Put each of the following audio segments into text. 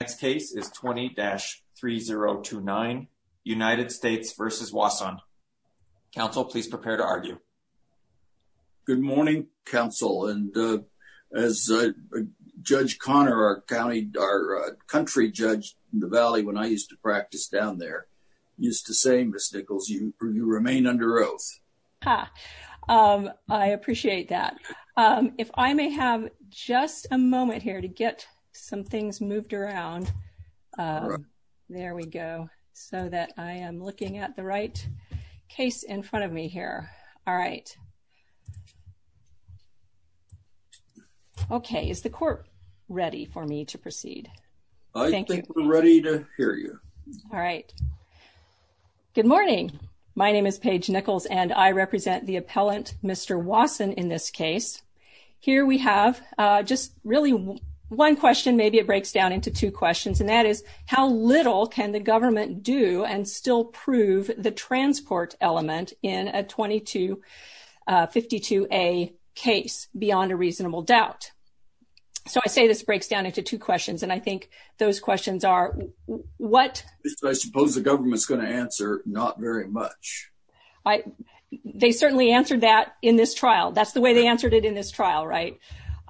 Next case is 20-3029, United States v. Wasson. Counsel, please prepare to argue. Good morning, counsel. And as Judge Connor, our country judge in the Valley, when I used to practice down there, used to say, Ms. Nichols, you remain under oath. I appreciate that. If I may have just a moment here to get some things moved around, there we go, so that I am looking at the right case in front of me here. All right. OK, is the court ready for me to proceed? I think we're ready to hear you. All right. Good morning. My name is Paige Nichols, and I represent the appellant Mr. Wasson in this case. Here we have just really one question. Maybe it breaks down into two questions, and that is, how little can the government do and still prove the transport element in a 2252A case beyond a reasonable doubt? So I say this breaks down into two questions, and I think those questions are, what? I suppose the government's going to answer, not very much. They certainly answered that in this trial. That's the way they answered it in this trial, right?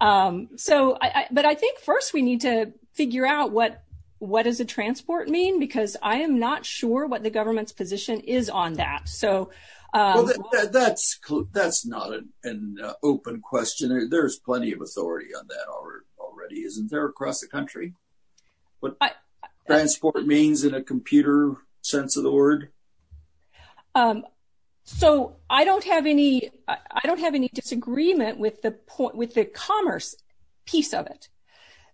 But I think first we need to figure out what does a transport mean? Because I am not sure what the government's position is on that, so. That's not an open question. There's plenty of authority on that already, isn't there, across the country? What transport means in a computer sense of the word? So I don't have any disagreement with the commerce piece of it.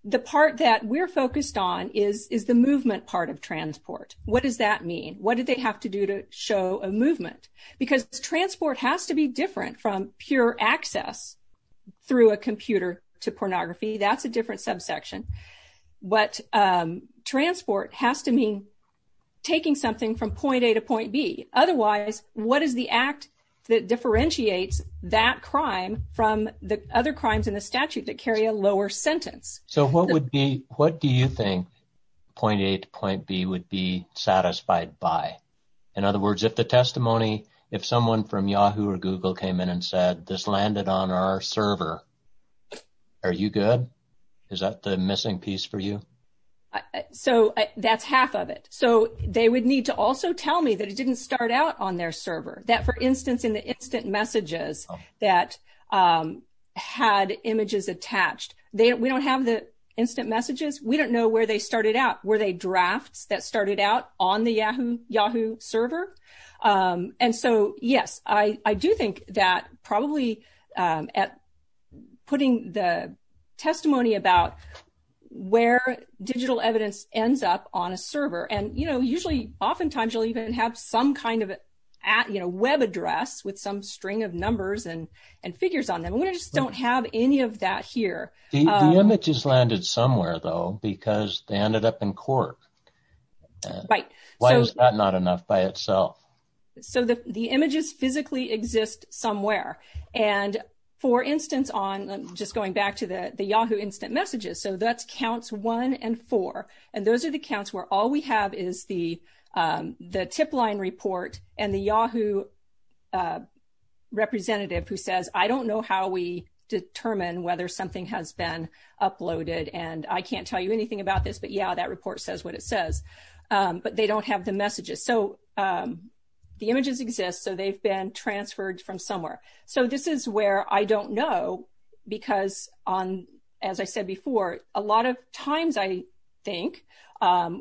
The part that we're focused on is the movement part of transport. What does that mean? What did they have to do to show a movement? Because transport has to be different from pure access through a computer to pornography. That's a different subsection. But transport has to mean taking something from point A to point B. Otherwise, what is the act that differentiates that crime from the other crimes in the statute that carry a lower sentence? So what do you think point A to point B would be satisfied by? In other words, if the testimony, if someone from Yahoo or Google came in and said, this landed on our server, are you good? Is that the missing piece for you? So that's half of it. So they would need to also tell me that it didn't start out on their server. That, for instance, in the instant messages that had images attached, we don't have the instant messages. We don't know where they started out. Were they drafts that started out on the Yahoo server? And so, yes, I do think that probably at putting the testimony about where digital evidence ends up on a server, and usually, oftentimes, you'll even have some kind of web address with some string of numbers and figures on them. We just don't have any of that here. The images landed somewhere, though, because they ended up in Quark. Right. Why is that not enough by itself? So the images physically exist somewhere. And for instance, just going back to the Yahoo instant messages, so that's counts 1 and 4. And those are the counts where all we have is the tip line report and the Yahoo representative who says, I don't know how we determine whether something has been uploaded, and I can't tell you anything about this. But yeah, that report says what it says. But they don't have the messages. So the images exist, so they've been transferred from somewhere. So this is where I don't know, because as I said before, a lot of times, I think,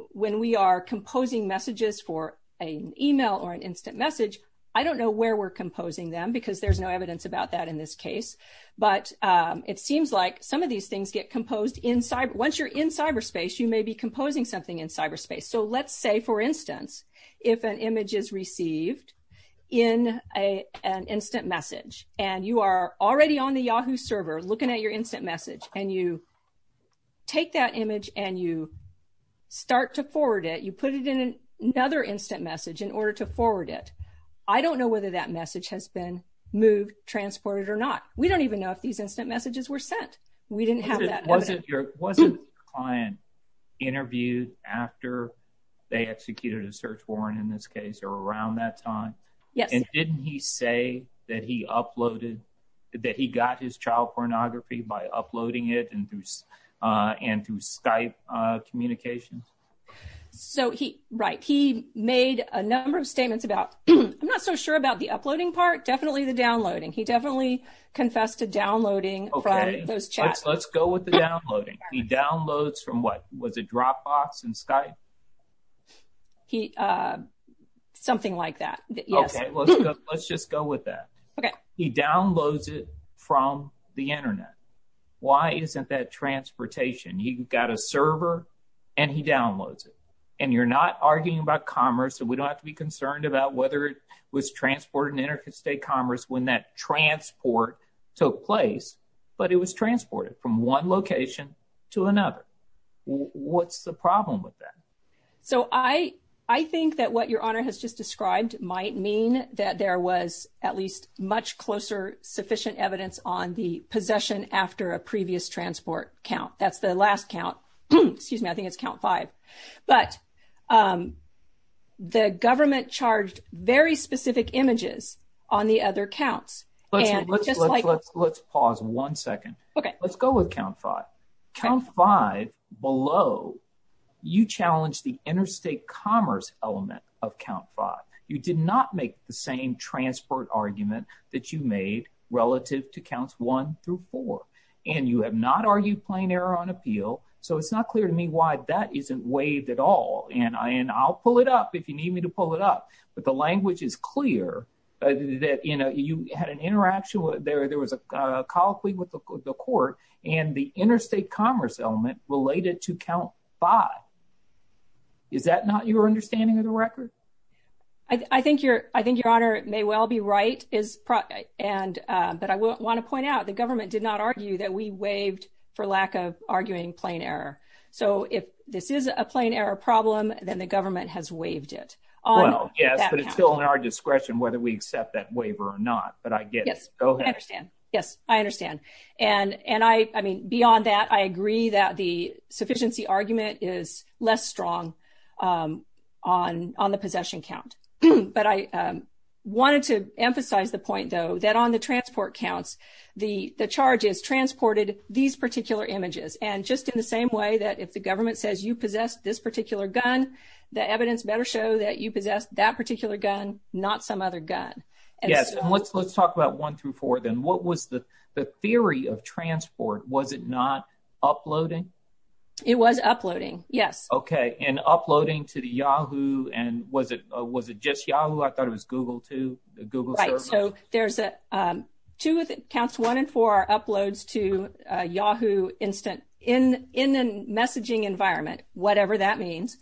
when we are composing messages for an email or an instant message, I don't know where we're composing them, because there's no evidence about that in this case. But it seems like some of these things get composed inside. Once you're in cyberspace, you may be composing something in cyberspace. So let's say, for instance, if an image is received in an instant message, and you are already on the Yahoo server looking at your instant message, and you take that image and you start to forward it, you put it in another instant message in order to forward it, I don't know whether that message has been moved, transported, or not. We don't even know if these instant messages were sent. We didn't have that evidence. Wasn't the client interviewed after they executed a search warrant, in this case, or around that time? Yes. And didn't he say that he got his child pornography by uploading it and through Skype communications? So he, right. He made a number of statements about, I'm not so sure about the uploading part, definitely the downloading. He definitely confessed to downloading from those chats. Let's go with the downloading. He downloads from what? Was it Dropbox and Skype? Something like that. OK, let's just go with that. He downloads it from the internet. Why isn't that transportation? He got a server, and he downloads it. And you're not arguing about commerce, and we don't have to be concerned about whether it was transported in Interstate Commerce when that transport took place, but it was transported from one location to another. What's the problem with that? So I think that what Your Honor has just described might mean that there was at least much closer sufficient evidence on the possession after a previous transport count. That's the last count. Excuse me, I think it's count five. But the government charged very specific images on the other counts. Let's pause one second. Let's go with count five. Count five below, you challenge the Interstate Commerce element of count five. You did not make the same transport argument that you made relative to counts one through four. And you have not argued plain error on appeal. So it's not clear to me why that isn't waived at all. And I'll pull it up if you need me to pull it up. But the language is clear that you had an interaction. There was a colloquy with the court, and the Interstate Commerce element related to count five. Is that not your understanding of the record? I think Your Honor may well be right. But I want to point out, the government did not argue that we waived for lack of arguing plain error. So if this is a plain error problem, then the government has waived it. Well, yes, but it's still in our discretion whether we accept that waiver or not. But I get it. Go ahead. Yes, I understand. And I mean, beyond that, I agree that the sufficiency argument is less strong on the possession count. But I wanted to emphasize the point, though, that on the transport counts, the charges transported these particular images. And just in the same way that if the government says you possess this particular gun, the evidence better show that you possess that particular gun, not some other gun. Yes, and let's talk about one through four then. What was the theory of transport? Was it not uploading? It was uploading, yes. OK, and uploading to the Yahoo? And was it just Yahoo? I thought it was Google too, the Google search? Right, so there's two accounts. One and four are uploads to Yahoo Instant in the messaging environment, whatever that means.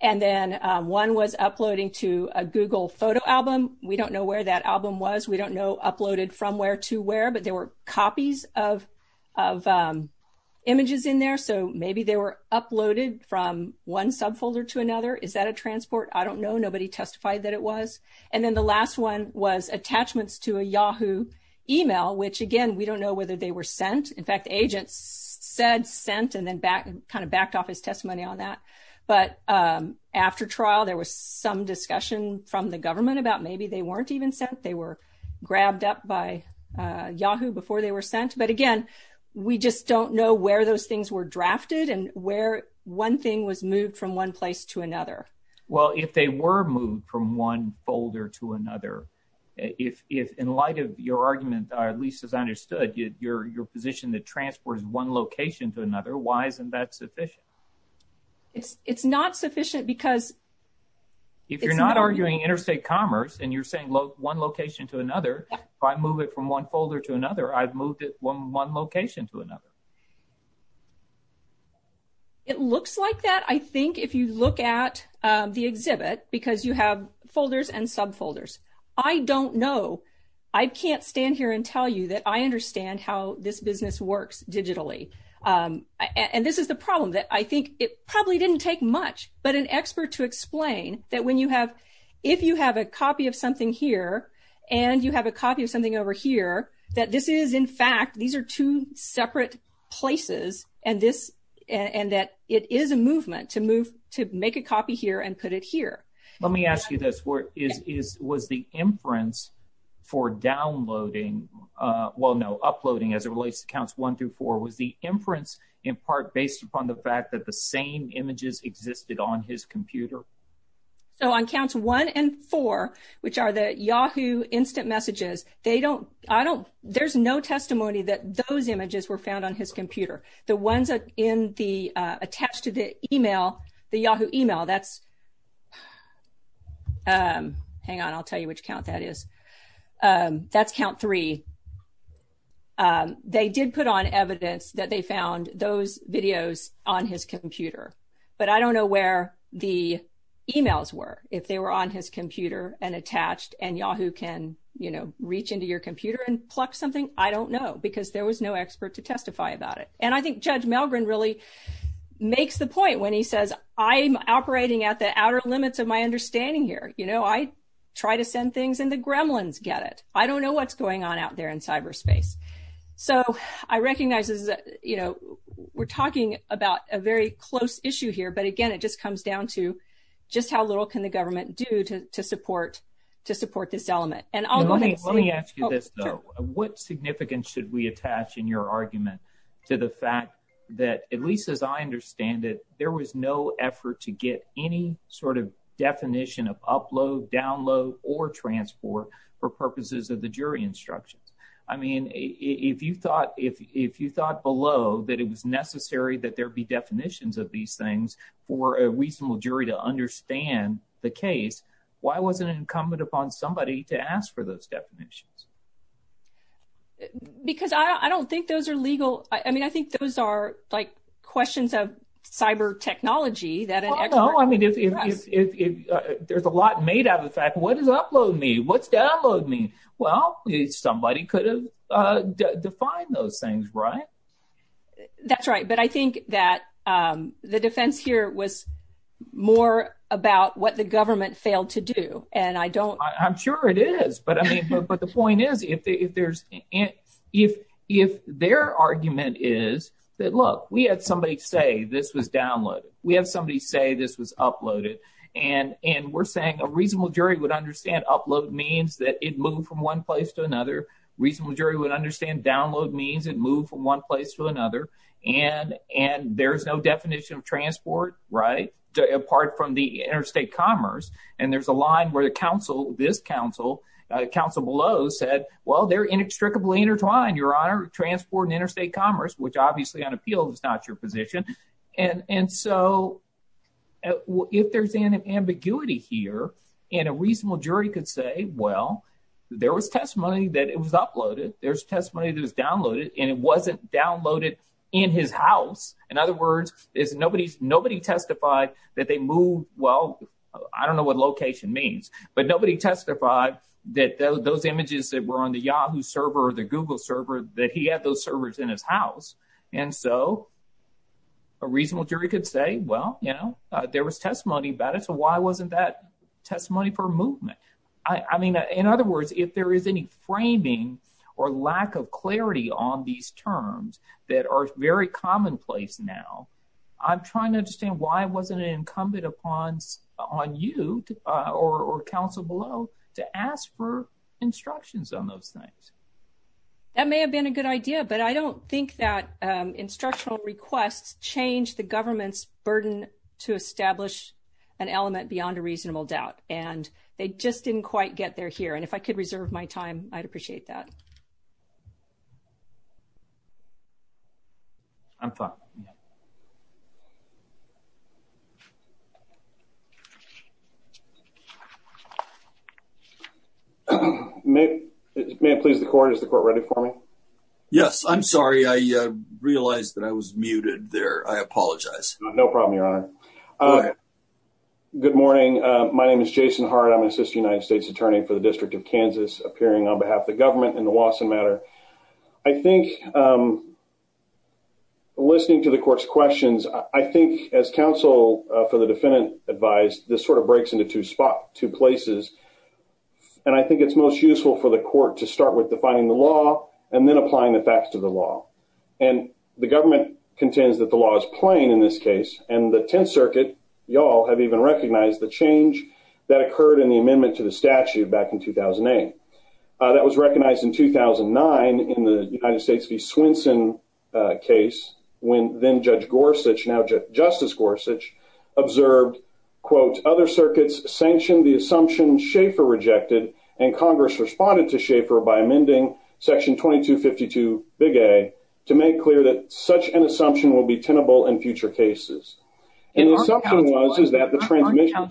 And then one was uploading to a Google photo album. We don't know where that album was. We don't know uploaded from where to where. But there were copies of images in there. So maybe they were uploaded from one subfolder to another. Is that a transport? I don't know. Nobody testified that it was. And then the last one was attachments to a Yahoo email, which again, we don't know whether they were sent. In fact, the agent said sent and then kind of backed off his testimony on that. But after trial, there was some discussion from the government about maybe they weren't even sent. They were grabbed up by Yahoo before they were sent. But again, we just don't know where those things were drafted and where one thing was moved from one place to another. Well, if they were moved from one folder to another, if in light of your argument, at least as I understood, your position that transports one location to another, why isn't that sufficient? It's not sufficient because it's not moving. If you're not arguing interstate commerce and you're saying one location to another, if I move it from one folder to another, I've moved it from one location to another. It looks like that, I think, if you look at the exhibit because you have folders and subfolders. I don't know. I can't stand here and tell you that I understand how this business works digitally. And this is the problem that I think it probably didn't take much, but an expert to explain that when you have, if you have a copy of something here and you have a copy of something over here, that this is in fact, these are two separate places and that it is a movement to make a copy here and put it here. Let me ask you this, was the inference for downloading, well, no, uploading as it relates to counts one through four was the inference in part based upon the fact that the same images existed on his computer? So on counts one and four, which are the Yahoo instant messages, they don't, I don't, there's no testimony that those images were found on his computer. The ones in the, attached to the email, the Yahoo email, that's, hang on, I'll tell you which count that is. That's count three. They did put on evidence that they found those videos on his computer, but I don't know where the emails were. If they were on his computer and attached and Yahoo can, you know, reach into your computer and pluck something, I don't know, because there was no expert to testify about it. And I think Judge Malgren really makes the point when he says, I'm operating at the outer limits of my understanding here. You know, I try to send things and the gremlins get it. I don't know what's going on out there in cyberspace. So I recognize this is, you know, we're talking about a very close issue here, but again, it just comes down to just how little can the government do to support this element. And I'll go next. Let me ask you this though. What significance should we attach in your argument to the fact that, at least as I understand it, there was no effort to get any sort of definition of upload, download, or transport for purposes of the jury instructions. I mean, if you thought below that it was necessary that there be definitions of these things for a reasonable jury to understand the case, why wasn't it incumbent upon somebody to ask for those definitions? Because I don't think those are legal. I mean, I think those are like questions of cyber technology that an expert- Well, no, I mean, there's a lot made out of the fact what does upload mean? What's download mean? Well, somebody could have defined those things, right? That's right, but I think that the defense here was more about what the government failed to do, and I don't- I'm sure it is, but I mean, but the point is, if their argument is that, look, we had somebody say this was downloaded, we have somebody say this was uploaded, and we're saying a reasonable jury would understand upload means that it moved from one place to another. Reasonable jury would understand download means it moved from one place to another, and there's no definition of transport, right, apart from the interstate commerce, and there's a line where the counsel, this counsel, counsel below said, well, they're inextricably intertwined, Your Honor, transport and interstate commerce, which obviously on appeal is not your position. And so if there's an ambiguity here, and a reasonable jury could say, well, there was testimony that it was uploaded, there's testimony that it was downloaded, and it wasn't downloaded in his house. In other words, nobody testified that they moved, well, I don't know what location means, but nobody testified that those images that were on the Yahoo server or the Google server, that he had those servers in his house. And so a reasonable jury could say, well, you know, there was testimony about it, so why wasn't that testimony for movement? I mean, in other words, if there is any framing or lack of clarity on these terms that are very commonplace now, I'm trying to understand why it wasn't incumbent upon you or counsel below to ask for instructions on those things. That may have been a good idea, but I don't think that instructional requests change the government's burden to establish an element beyond a reasonable doubt. And they just didn't quite get there here. And if I could reserve my time, I'd appreciate that. I'm fine. May I please the court? Is the court ready for me? Yes, I'm sorry, I realized that I was muted there. I apologize. No problem, Your Honor. Good morning. My name is Jason Hart. I'm an assistant United States attorney for the District of Kansas, appearing on behalf of the government in the Lawson matter. I think, listening to the court's questions, I think as counsel for the defendant advised, this sort of breaks into two places. And I think it's most useful for the court to start with defining the law and then applying the facts to the law. And the government contends that the law is plain in this case. And the 10th Circuit, y'all have even recognized the change that occurred in the amendment to the statute back in 2008. That was recognized in 2009 in the United States v. Swenson case when then Judge Gorsuch, now Justice Gorsuch, observed, quote, other circuits sanctioned the assumption Schaeffer rejected, and Congress responded to Schaeffer by amending section 2252, big A, to make clear that such an assumption will be tenable in future cases. And the assumption was, is that the transmission.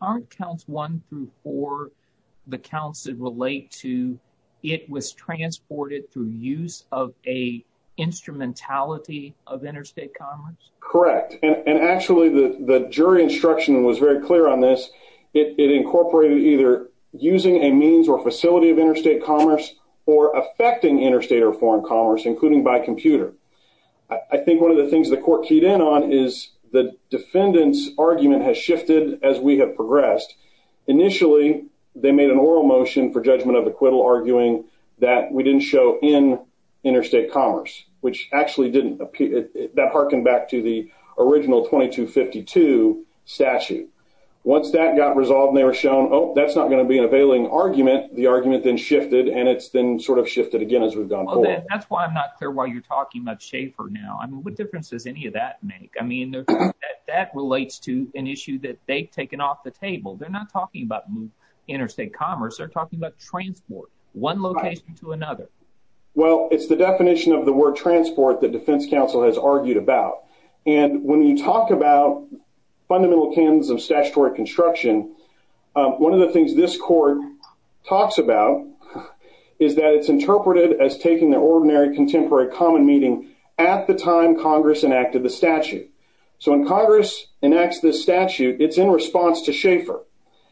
Aren't counts one through four, the counts that relate to, it was transported through use of a instrumentality of interstate commerce? Correct. And actually the jury instruction was very clear on this. It incorporated either using a means or facility of interstate commerce or affecting interstate or foreign commerce, including by computer. I think one of the things the court keyed in on is the defendant's argument has shifted as we have progressed. Initially, they made an oral motion for judgment of acquittal, arguing that we didn't show in interstate commerce, which actually didn't appear, that hearkened back to the original 2252 statute. Once that got resolved and they were shown, oh, that's not gonna be an availing argument, the argument then shifted and it's then sort of shifted again as we've gone forward. That's why I'm not clear why you're talking about Schaefer now. I mean, what difference does any of that make? I mean, that relates to an issue that they've taken off the table. They're not talking about interstate commerce. They're talking about transport, one location to another. Well, it's the definition of the word transport that defense counsel has argued about. And when you talk about fundamental canons of statutory construction, one of the things this court talks about is that it's interpreted as taking the ordinary contemporary common meeting at the time Congress enacted the statute. So when Congress enacts this statute, it's in response to Schaefer.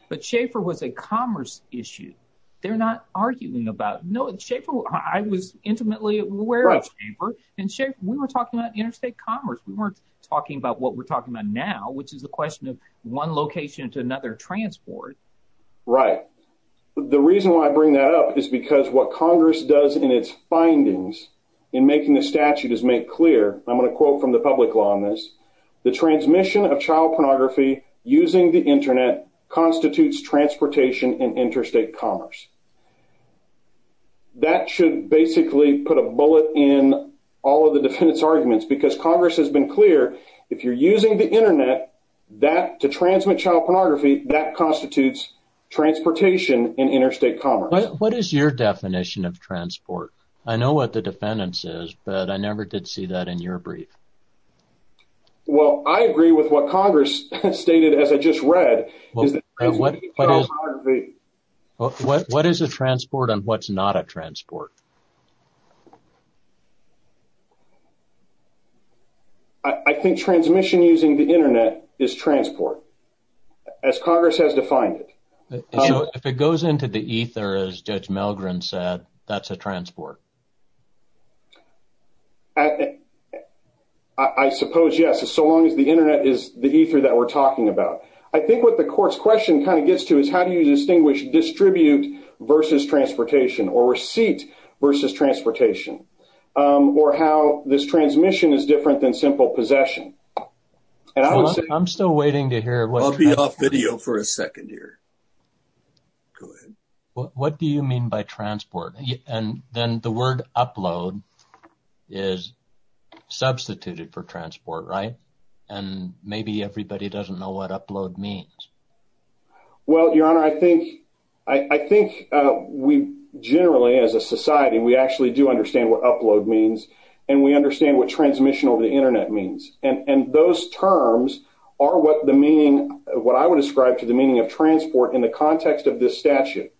But Schaefer was a commerce issue. They're not arguing about, no, Schaefer, I was intimately aware of Schaefer and Schaefer, we were talking about interstate commerce. We weren't talking about what we're talking about now, which is the question of one location to another transport. Right. The reason why I bring that up is because what Congress does in its findings in making the statute is make clear, I'm gonna quote from the public law on this, the transmission of child pornography using the internet constitutes transportation and interstate commerce. That should basically put a bullet in all of the defendant's arguments because Congress has been clear, if you're using the internet to transmit child pornography, that constitutes transportation and interstate commerce. What is your definition of transport? I know what the defendants is, but I never did see that in your brief. Well, I agree with what Congress stated, as I just read, is that- What is a transport and what's not a transport? I think transmission using the internet is transport. As Congress has defined it. If it goes into the ether, as Judge Melgren said, that's a transport. I suppose, yes, so long as the internet is the ether that we're talking about. I think what the court's question kind of gets to is how do you distinguish distribute versus transportation or receipt versus transportation? Or how this transmission is different than simple possession? And I would say- I'm still waiting to hear what- I'll be off video for a second here. Go ahead. What do you mean by transport? And then the word upload is substituted for transport, right? And maybe everybody doesn't know what upload means. Well, Your Honor, I think we generally, as a society, we actually do understand what upload means and we understand what transmission over the internet means. And those terms are what the meaning- what I would ascribe to the meaning of transport in the context of this statute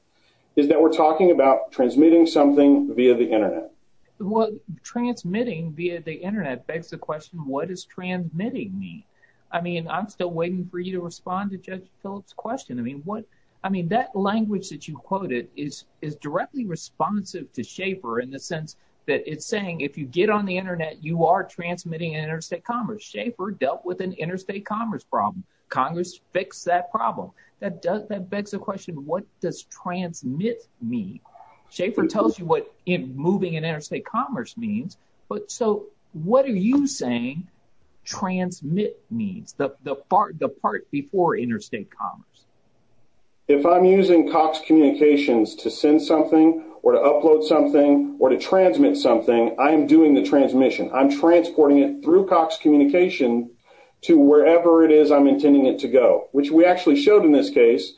is that we're talking about transmitting something via the internet. Well, transmitting via the internet begs the question, what is transmitting mean? I mean, I'm still waiting for you to respond to Judge Phillips' question. I mean, what- I mean, that language that you quoted is directly responsive to Schaefer in the sense that it's saying, if you get on the internet, you are transmitting interstate commerce. Schaefer dealt with an interstate commerce problem. Congress fixed that problem. That begs the question, what does transmit mean? Schaefer tells you what moving in interstate commerce means, but so what are you saying transmit means? The part before interstate commerce. If I'm using Cox Communications to send something or to upload something or to transmit something, I am doing the transmission. I'm transporting it through Cox Communication to wherever it is I'm intending it to go, which we actually showed in this case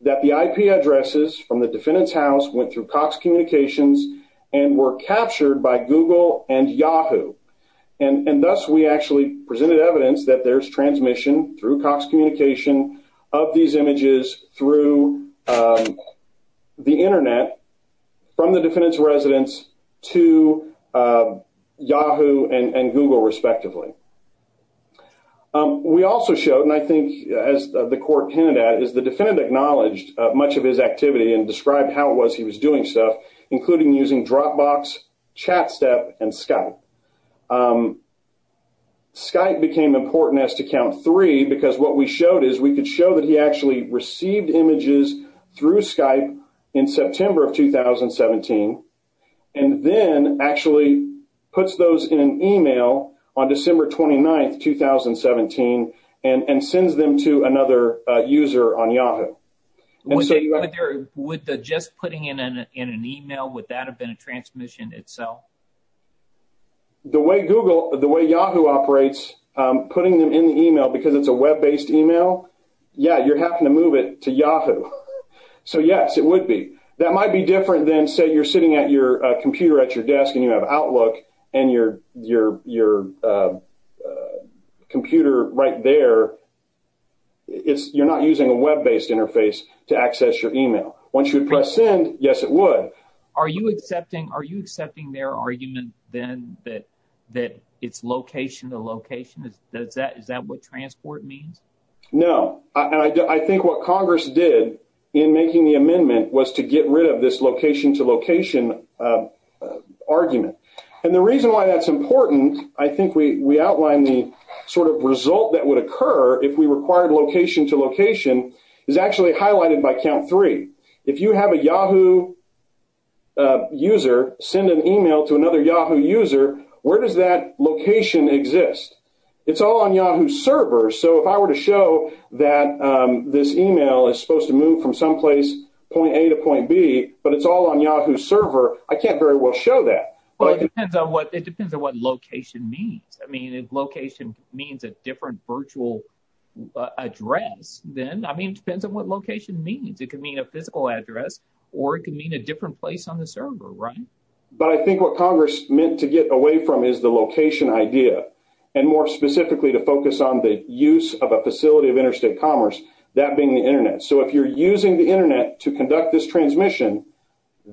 that the IP addresses from the defendant's house went through Cox Communications and were captured by Google and Yahoo. And thus, we actually presented evidence that there's transmission through Cox Communication of these images through the internet from the defendant's residence to Yahoo and Google respectively. We also showed, and I think as the court candidate, is the defendant acknowledged much of his activity and described how it was he was doing stuff, including using Dropbox, ChatStep, and Skype. Skype became important as to count three because what we showed is we could show that he actually received images through Skype in September of 2017, and then actually puts those in an email on December 29th, 2017, and sends them to another user on Yahoo. Would the just putting in an email, would that have been a transmission itself? The way Yahoo operates, putting them in the email because it's a web-based email, yeah, you're having to move it to Yahoo. So yes, it would be. That might be different than say you're sitting at your computer at your desk and you have Outlook and your computer right there, you're not using a web-based interface to access your email. Once you press send, yes, it would. Are you accepting their argument then that it's location to location? Is that what transport means? No, and I think what Congress did in making the amendment was to get rid of this location to location argument. And the reason why that's important, I think we outlined the sort of result that would occur if we required location to location is actually highlighted by count three. If you have a Yahoo user send an email to another Yahoo user, where does that location exist? It's all on Yahoo's server, so if I were to show that this email is supposed to move from some place point A to point B, but it's all on Yahoo's server, I can't very well show that. Well, it depends on what location means. I mean, if location means a different virtual address then, I mean, it depends on what location means. It could mean a physical address or it could mean a different place on the server, right? But I think what Congress meant to get away from is the location idea and more specifically to focus on the use of a facility of interstate commerce, that being the internet. So if you're using the internet to conduct this transmission,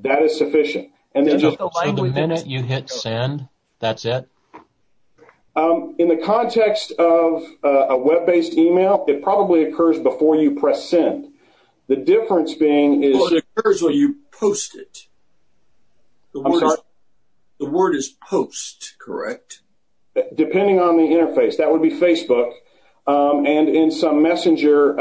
that is sufficient. And then just- So the minute you hit send, that's it? In the context of a web-based email, it probably occurs before you press send. The difference being is- Well, it occurs when you post it. I'm sorry? The word is post, correct? Depending on the interface. That would be Facebook. And in some messenger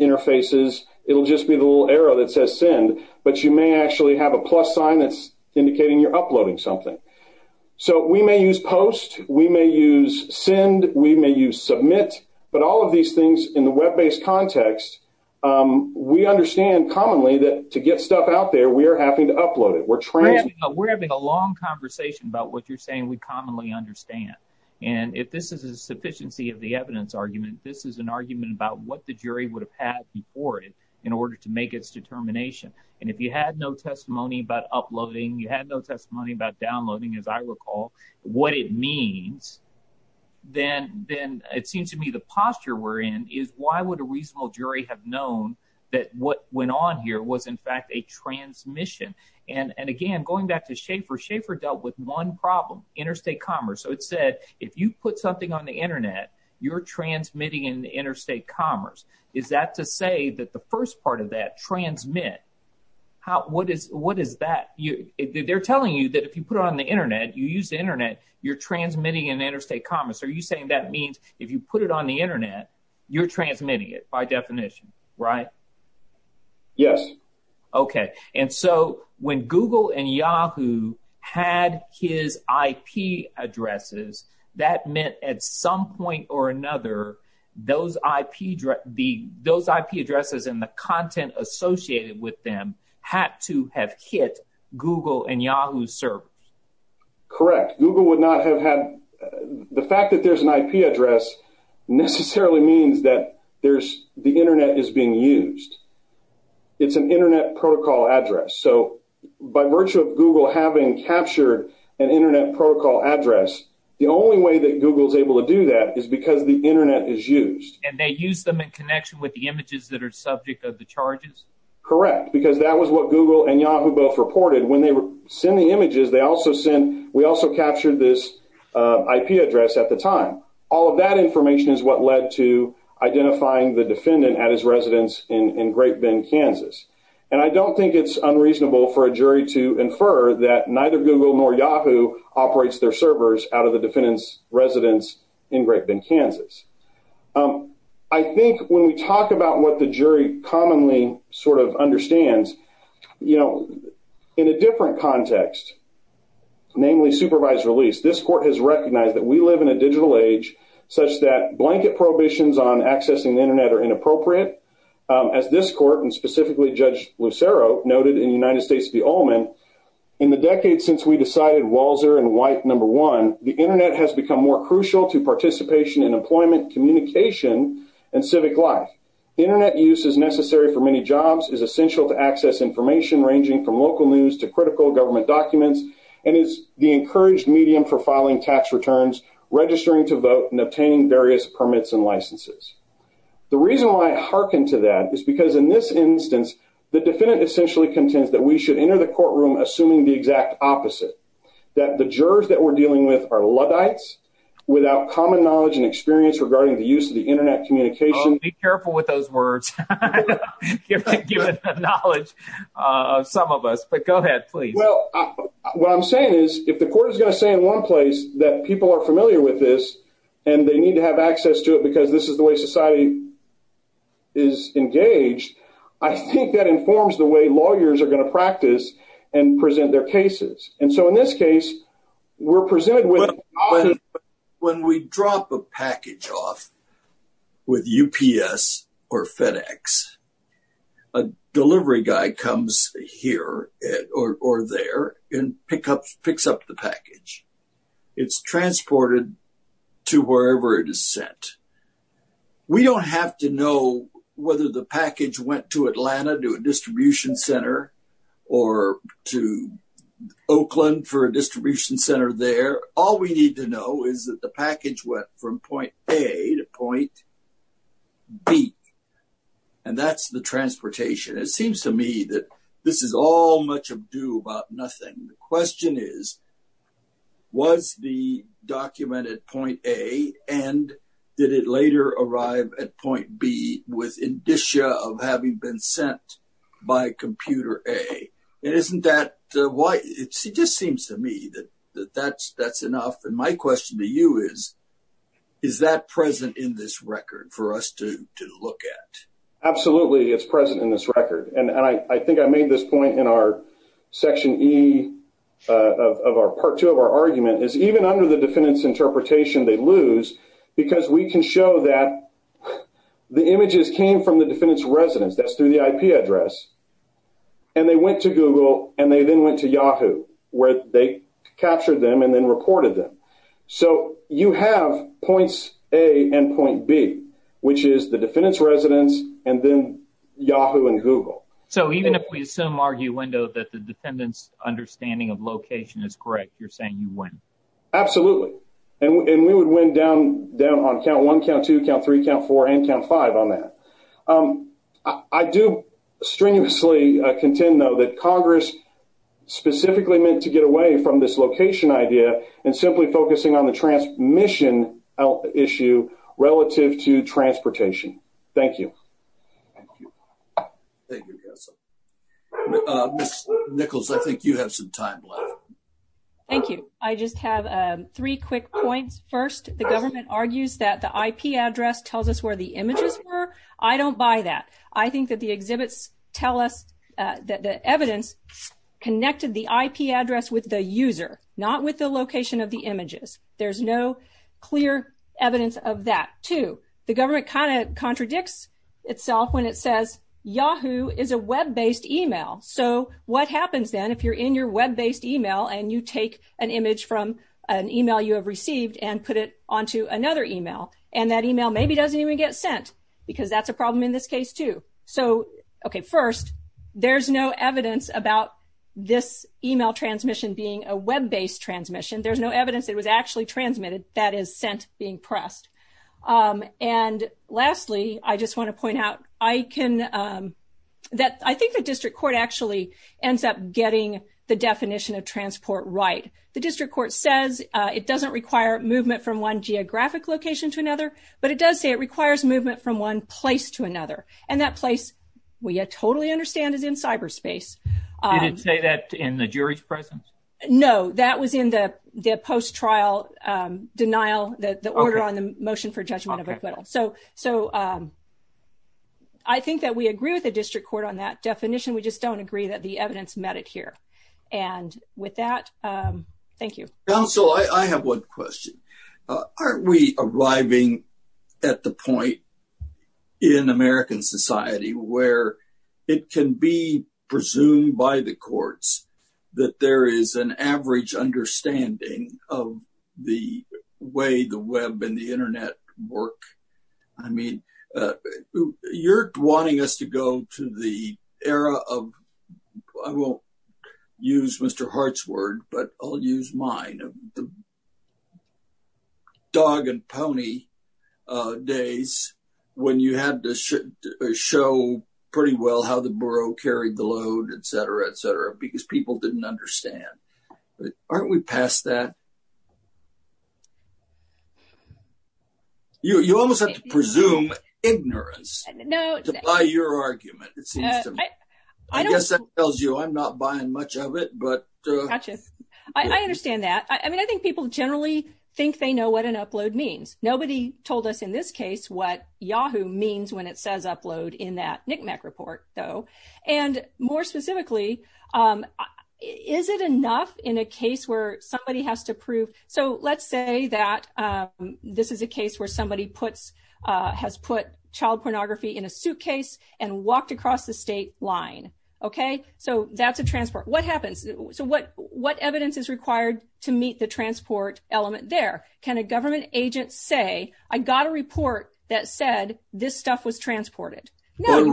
interfaces, it'll just be the little arrow that says send, but you may actually have a plus sign that's indicating you're uploading something. So we may use post, we may use send, we may use submit, but all of these things in the web-based context, we understand commonly that to get stuff out there, we are having to upload it. We're transmitting- We're having a long conversation about what you're saying we commonly understand. And if this is a sufficiency of the evidence argument, this is an argument about what the jury would have had before it in order to make its determination. And if you had no testimony about uploading, you had no testimony about downloading, as I recall, what it means, then it seems to me the posture we're in is why would a reasonable jury have known that what went on here was in fact a transmission? And again, going back to Schaefer, Schaefer dealt with one problem, interstate commerce. So it said, if you put something on the internet, you're transmitting in the interstate commerce. Is that to say that the first part of that, transmit, what is that? They're telling you that if you put it on the internet, you use the internet, you're transmitting in interstate commerce. Are you saying that means if you put it on the internet, you're transmitting it by definition, right? Yes. Okay, and so when Google and Yahoo had his IP addresses, that meant at some point or another, those IP addresses and the content associated with them had to have hit Google and Yahoo servers. Correct, Google would not have had, the fact that there's an IP address necessarily means that the internet is being used. It's an internet protocol address. So by virtue of Google having captured an internet protocol address, the only way that Google is able to do that is because the internet is used. And they use them in connection with the images that are subject of the charges? Correct, because that was what Google and Yahoo both reported. When they send the images, they also send, we also captured this IP address at the time. All of that information is what led to identifying the defendant at his residence in Great Bend, Kansas. And I don't think it's unreasonable for a jury to infer that neither Google nor Yahoo operates their servers out of the defendant's residence in Great Bend, Kansas. I think when we talk about what the jury commonly sort of understands, in a different context, namely supervised release, this court has recognized that we live in a digital age such that blanket prohibitions on accessing the internet are inappropriate. As this court and specifically Judge Lucero noted in United States v. Ullman, in the decade since we decided Walzer and White number one, the internet has become more crucial to participation in employment, communication, and civic life. Internet use is necessary for many jobs, is essential to access information ranging from local news to critical government documents, and is the encouraged medium for filing tax returns, registering to vote, and obtaining various permits and licenses. The reason why I harken to that is because in this instance, the defendant essentially contends that we should enter the courtroom assuming the exact opposite, that the jurors that we're dealing with are Luddites, without common knowledge and experience regarding the use of the internet communication. Be careful with those words. I know you're giving the knowledge of some of us, but go ahead, please. Well, what I'm saying is, if the court is gonna say in one place that people are familiar with this, and they need to have access to it because this is the way society is engaged, I think that informs the way lawyers are gonna practice and present their cases. And so in this case, we're presented with- When we drop a package off with UPS or FedEx, a delivery guy comes here or there and picks up the package. It's transported to wherever it is sent. We don't have to know whether the package went to Atlanta, to a distribution center, or to Oakland for a distribution center there. All we need to know is that the package went from point A to point B, and that's the transportation. It seems to me that this is all much ado about nothing. The question is, was the document at point A, and did it later arrive at point B with indicia of having been sent by computer A? And isn't that why? It just seems to me that that's enough. And my question to you is, is that present in this record for us to look at? Absolutely, it's present in this record. And I think I made this point in our section E of our part two of our argument, is even under the defendant's interpretation, they lose because we can show that the images came from the defendant's residence. That's through the IP address. And they went to Google, and they then went to Yahoo, where they captured them and then reported them. So you have points A and point B, which is the defendant's residence, and then Yahoo and Google. So even if we assume, argue, window, that the defendant's understanding of location is correct, you're saying you win? Absolutely, and we would win down on count one, count two, count three, count four, and count five on that. I do strenuously contend, though, that Congress specifically meant to get away from this location idea and simply focusing on the transmission issue relative to transportation. Thank you. Thank you, Castle. Ms. Nichols, I think you have some time left. Thank you. I just have three quick points. First, the government argues that the IP address tells us where the images were. I don't buy that. I think that the exhibits tell us that the evidence connected the IP address with the user, not with the location of the images. There's no clear evidence of that. Two, the government kinda contradicts itself when it says Yahoo is a web-based email. So what happens then if you're in your web-based email and you take an image from an email you have received and put it onto another email, and that email maybe doesn't even get sent because that's a problem in this case, too? So, okay, first, there's no evidence about this email transmission being a web-based transmission. There's no evidence it was actually transmitted. That is sent being pressed. And lastly, I just wanna point out, I think the district court actually ends up getting the definition of transport right. The district court says it doesn't require movement from one geographic location to another, but it does say it requires movement from one place to another. And that place, we totally understand, is in cyberspace. Did it say that in the jury's presence? No, that was in the post-trial denial, the order on the motion for judgment of acquittal. So I think that we agree with the district court on that definition. We just don't agree that the evidence met it here. And with that, thank you. Counsel, I have one question. Aren't we arriving at the point in American society where it can be presumed by the courts that there is an average understanding of the way the web and the internet work? I mean, you're wanting us to go to the era of, I won't use Mr. Hart's word, but I'll use mine, of the dog and pony days when you had to show pretty well how the borough carried the load, et cetera, et cetera, because people didn't understand. Aren't we past that? You almost have to presume ignorance to buy your argument, it seems to me. I guess that tells you I'm not buying much of it, but- Gotcha. I understand that. I mean, I think people generally think they know what an upload means. Nobody told us in this case what Yahoo means when it says upload in that NCMEC report, though. And more specifically, is it enough in a case where somebody has to prove, so let's say that this is a case where somebody has put child pornography in a suitcase and walked across the state line, okay? So that's a transport. What happens? So what evidence is required to meet the transport element there? Can a government agent say, I got a report that said this stuff was transported? No, you're-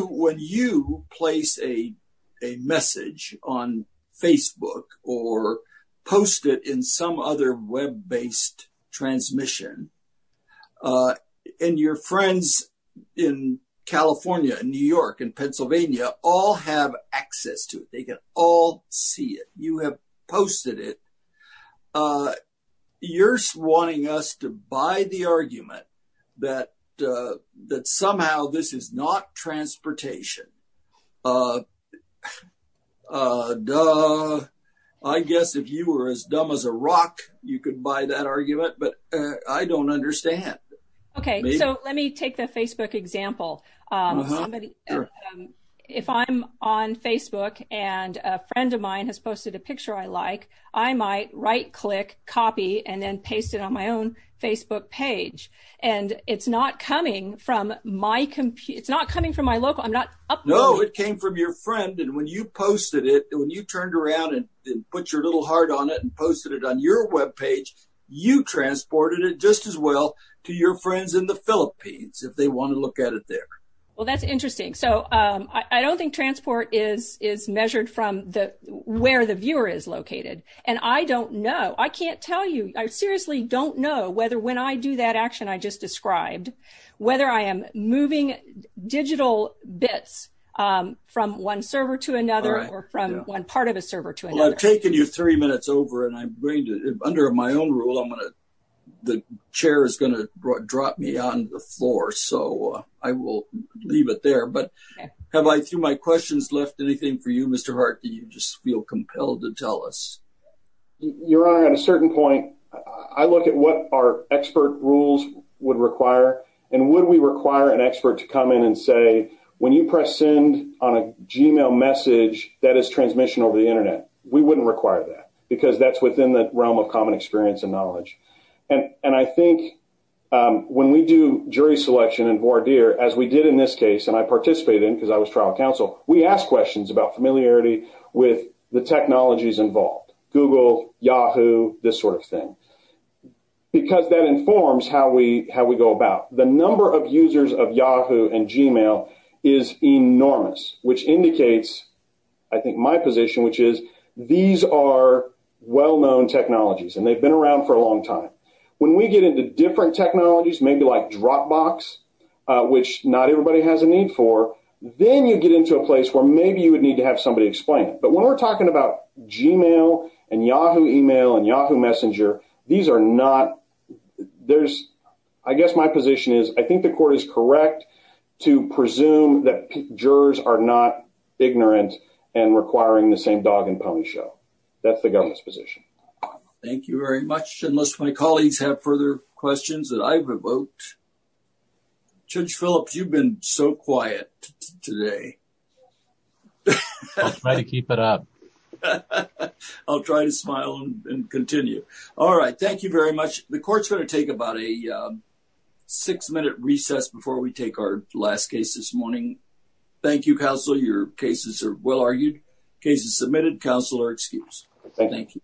But when you place a message on Facebook or post it in some other web-based transmission, and your friends in California and New York and Pennsylvania all have access to it. They can all see it. You're wanting us to buy the argument that somehow this is not transportation. Duh. I guess if you were as dumb as a rock, you could buy that argument, but I don't understand. Okay, so let me take the Facebook example. If I'm on Facebook and a friend of mine has posted a picture I like, I might right-click, copy, and then paste it on my own Facebook page. And it's not coming from my local, I'm not- No, it came from your friend. And when you posted it, when you turned around and put your little heart on it and posted it on your webpage, you transported it just as well to your friends in the Philippines, if they want to look at it there. Well, that's interesting. So I don't think transport is measured from where the viewer is located. And I don't know. I can't tell you, I seriously don't know whether when I do that action I just described, whether I am moving digital bits from one server to another or from one part of a server to another. Well, I've taken you three minutes over and I'm going to, under my own rule, I'm gonna, the chair is gonna drop me on the floor. So I will leave it there. But have I, through my questions, left anything for you, Mr. Hart? Do you just feel compelled to tell us? Your Honor, at a certain point, I look at what our expert rules would require and would we require an expert to come in and say, when you press send on a Gmail message, that is transmission over the internet. We wouldn't require that because that's within the realm of common experience and knowledge. And I think when we do jury selection in voir dire, as we did in this case, and I participated in because I was trial counsel, we ask questions about familiarity with the technologies involved. Google, Yahoo, this sort of thing. Because that informs how we go about. The number of users of Yahoo and Gmail is enormous, which indicates, I think, my position, which is these are well-known technologies and they've been around for a long time. When we get into different technologies, maybe like Dropbox, which not everybody has a need for, then you get into a place where maybe you would need to have somebody explain it. But when we're talking about Gmail and Yahoo email and Yahoo messenger, these are not, I guess my position is, I think the court is correct to presume that jurors are not ignorant and requiring the same dog and pony show. That's the government's position. Thank you very much. Unless my colleagues have further questions that I've evoked. Judge Phillips, you've been so quiet today. I'll try to keep it up. I'll try to smile and continue. All right, thank you very much. The court's going to take about a six minute recess before we take our last case this morning. Thank you, counsel. Your cases are well argued. Case is submitted. Counsel are excused. Thank you.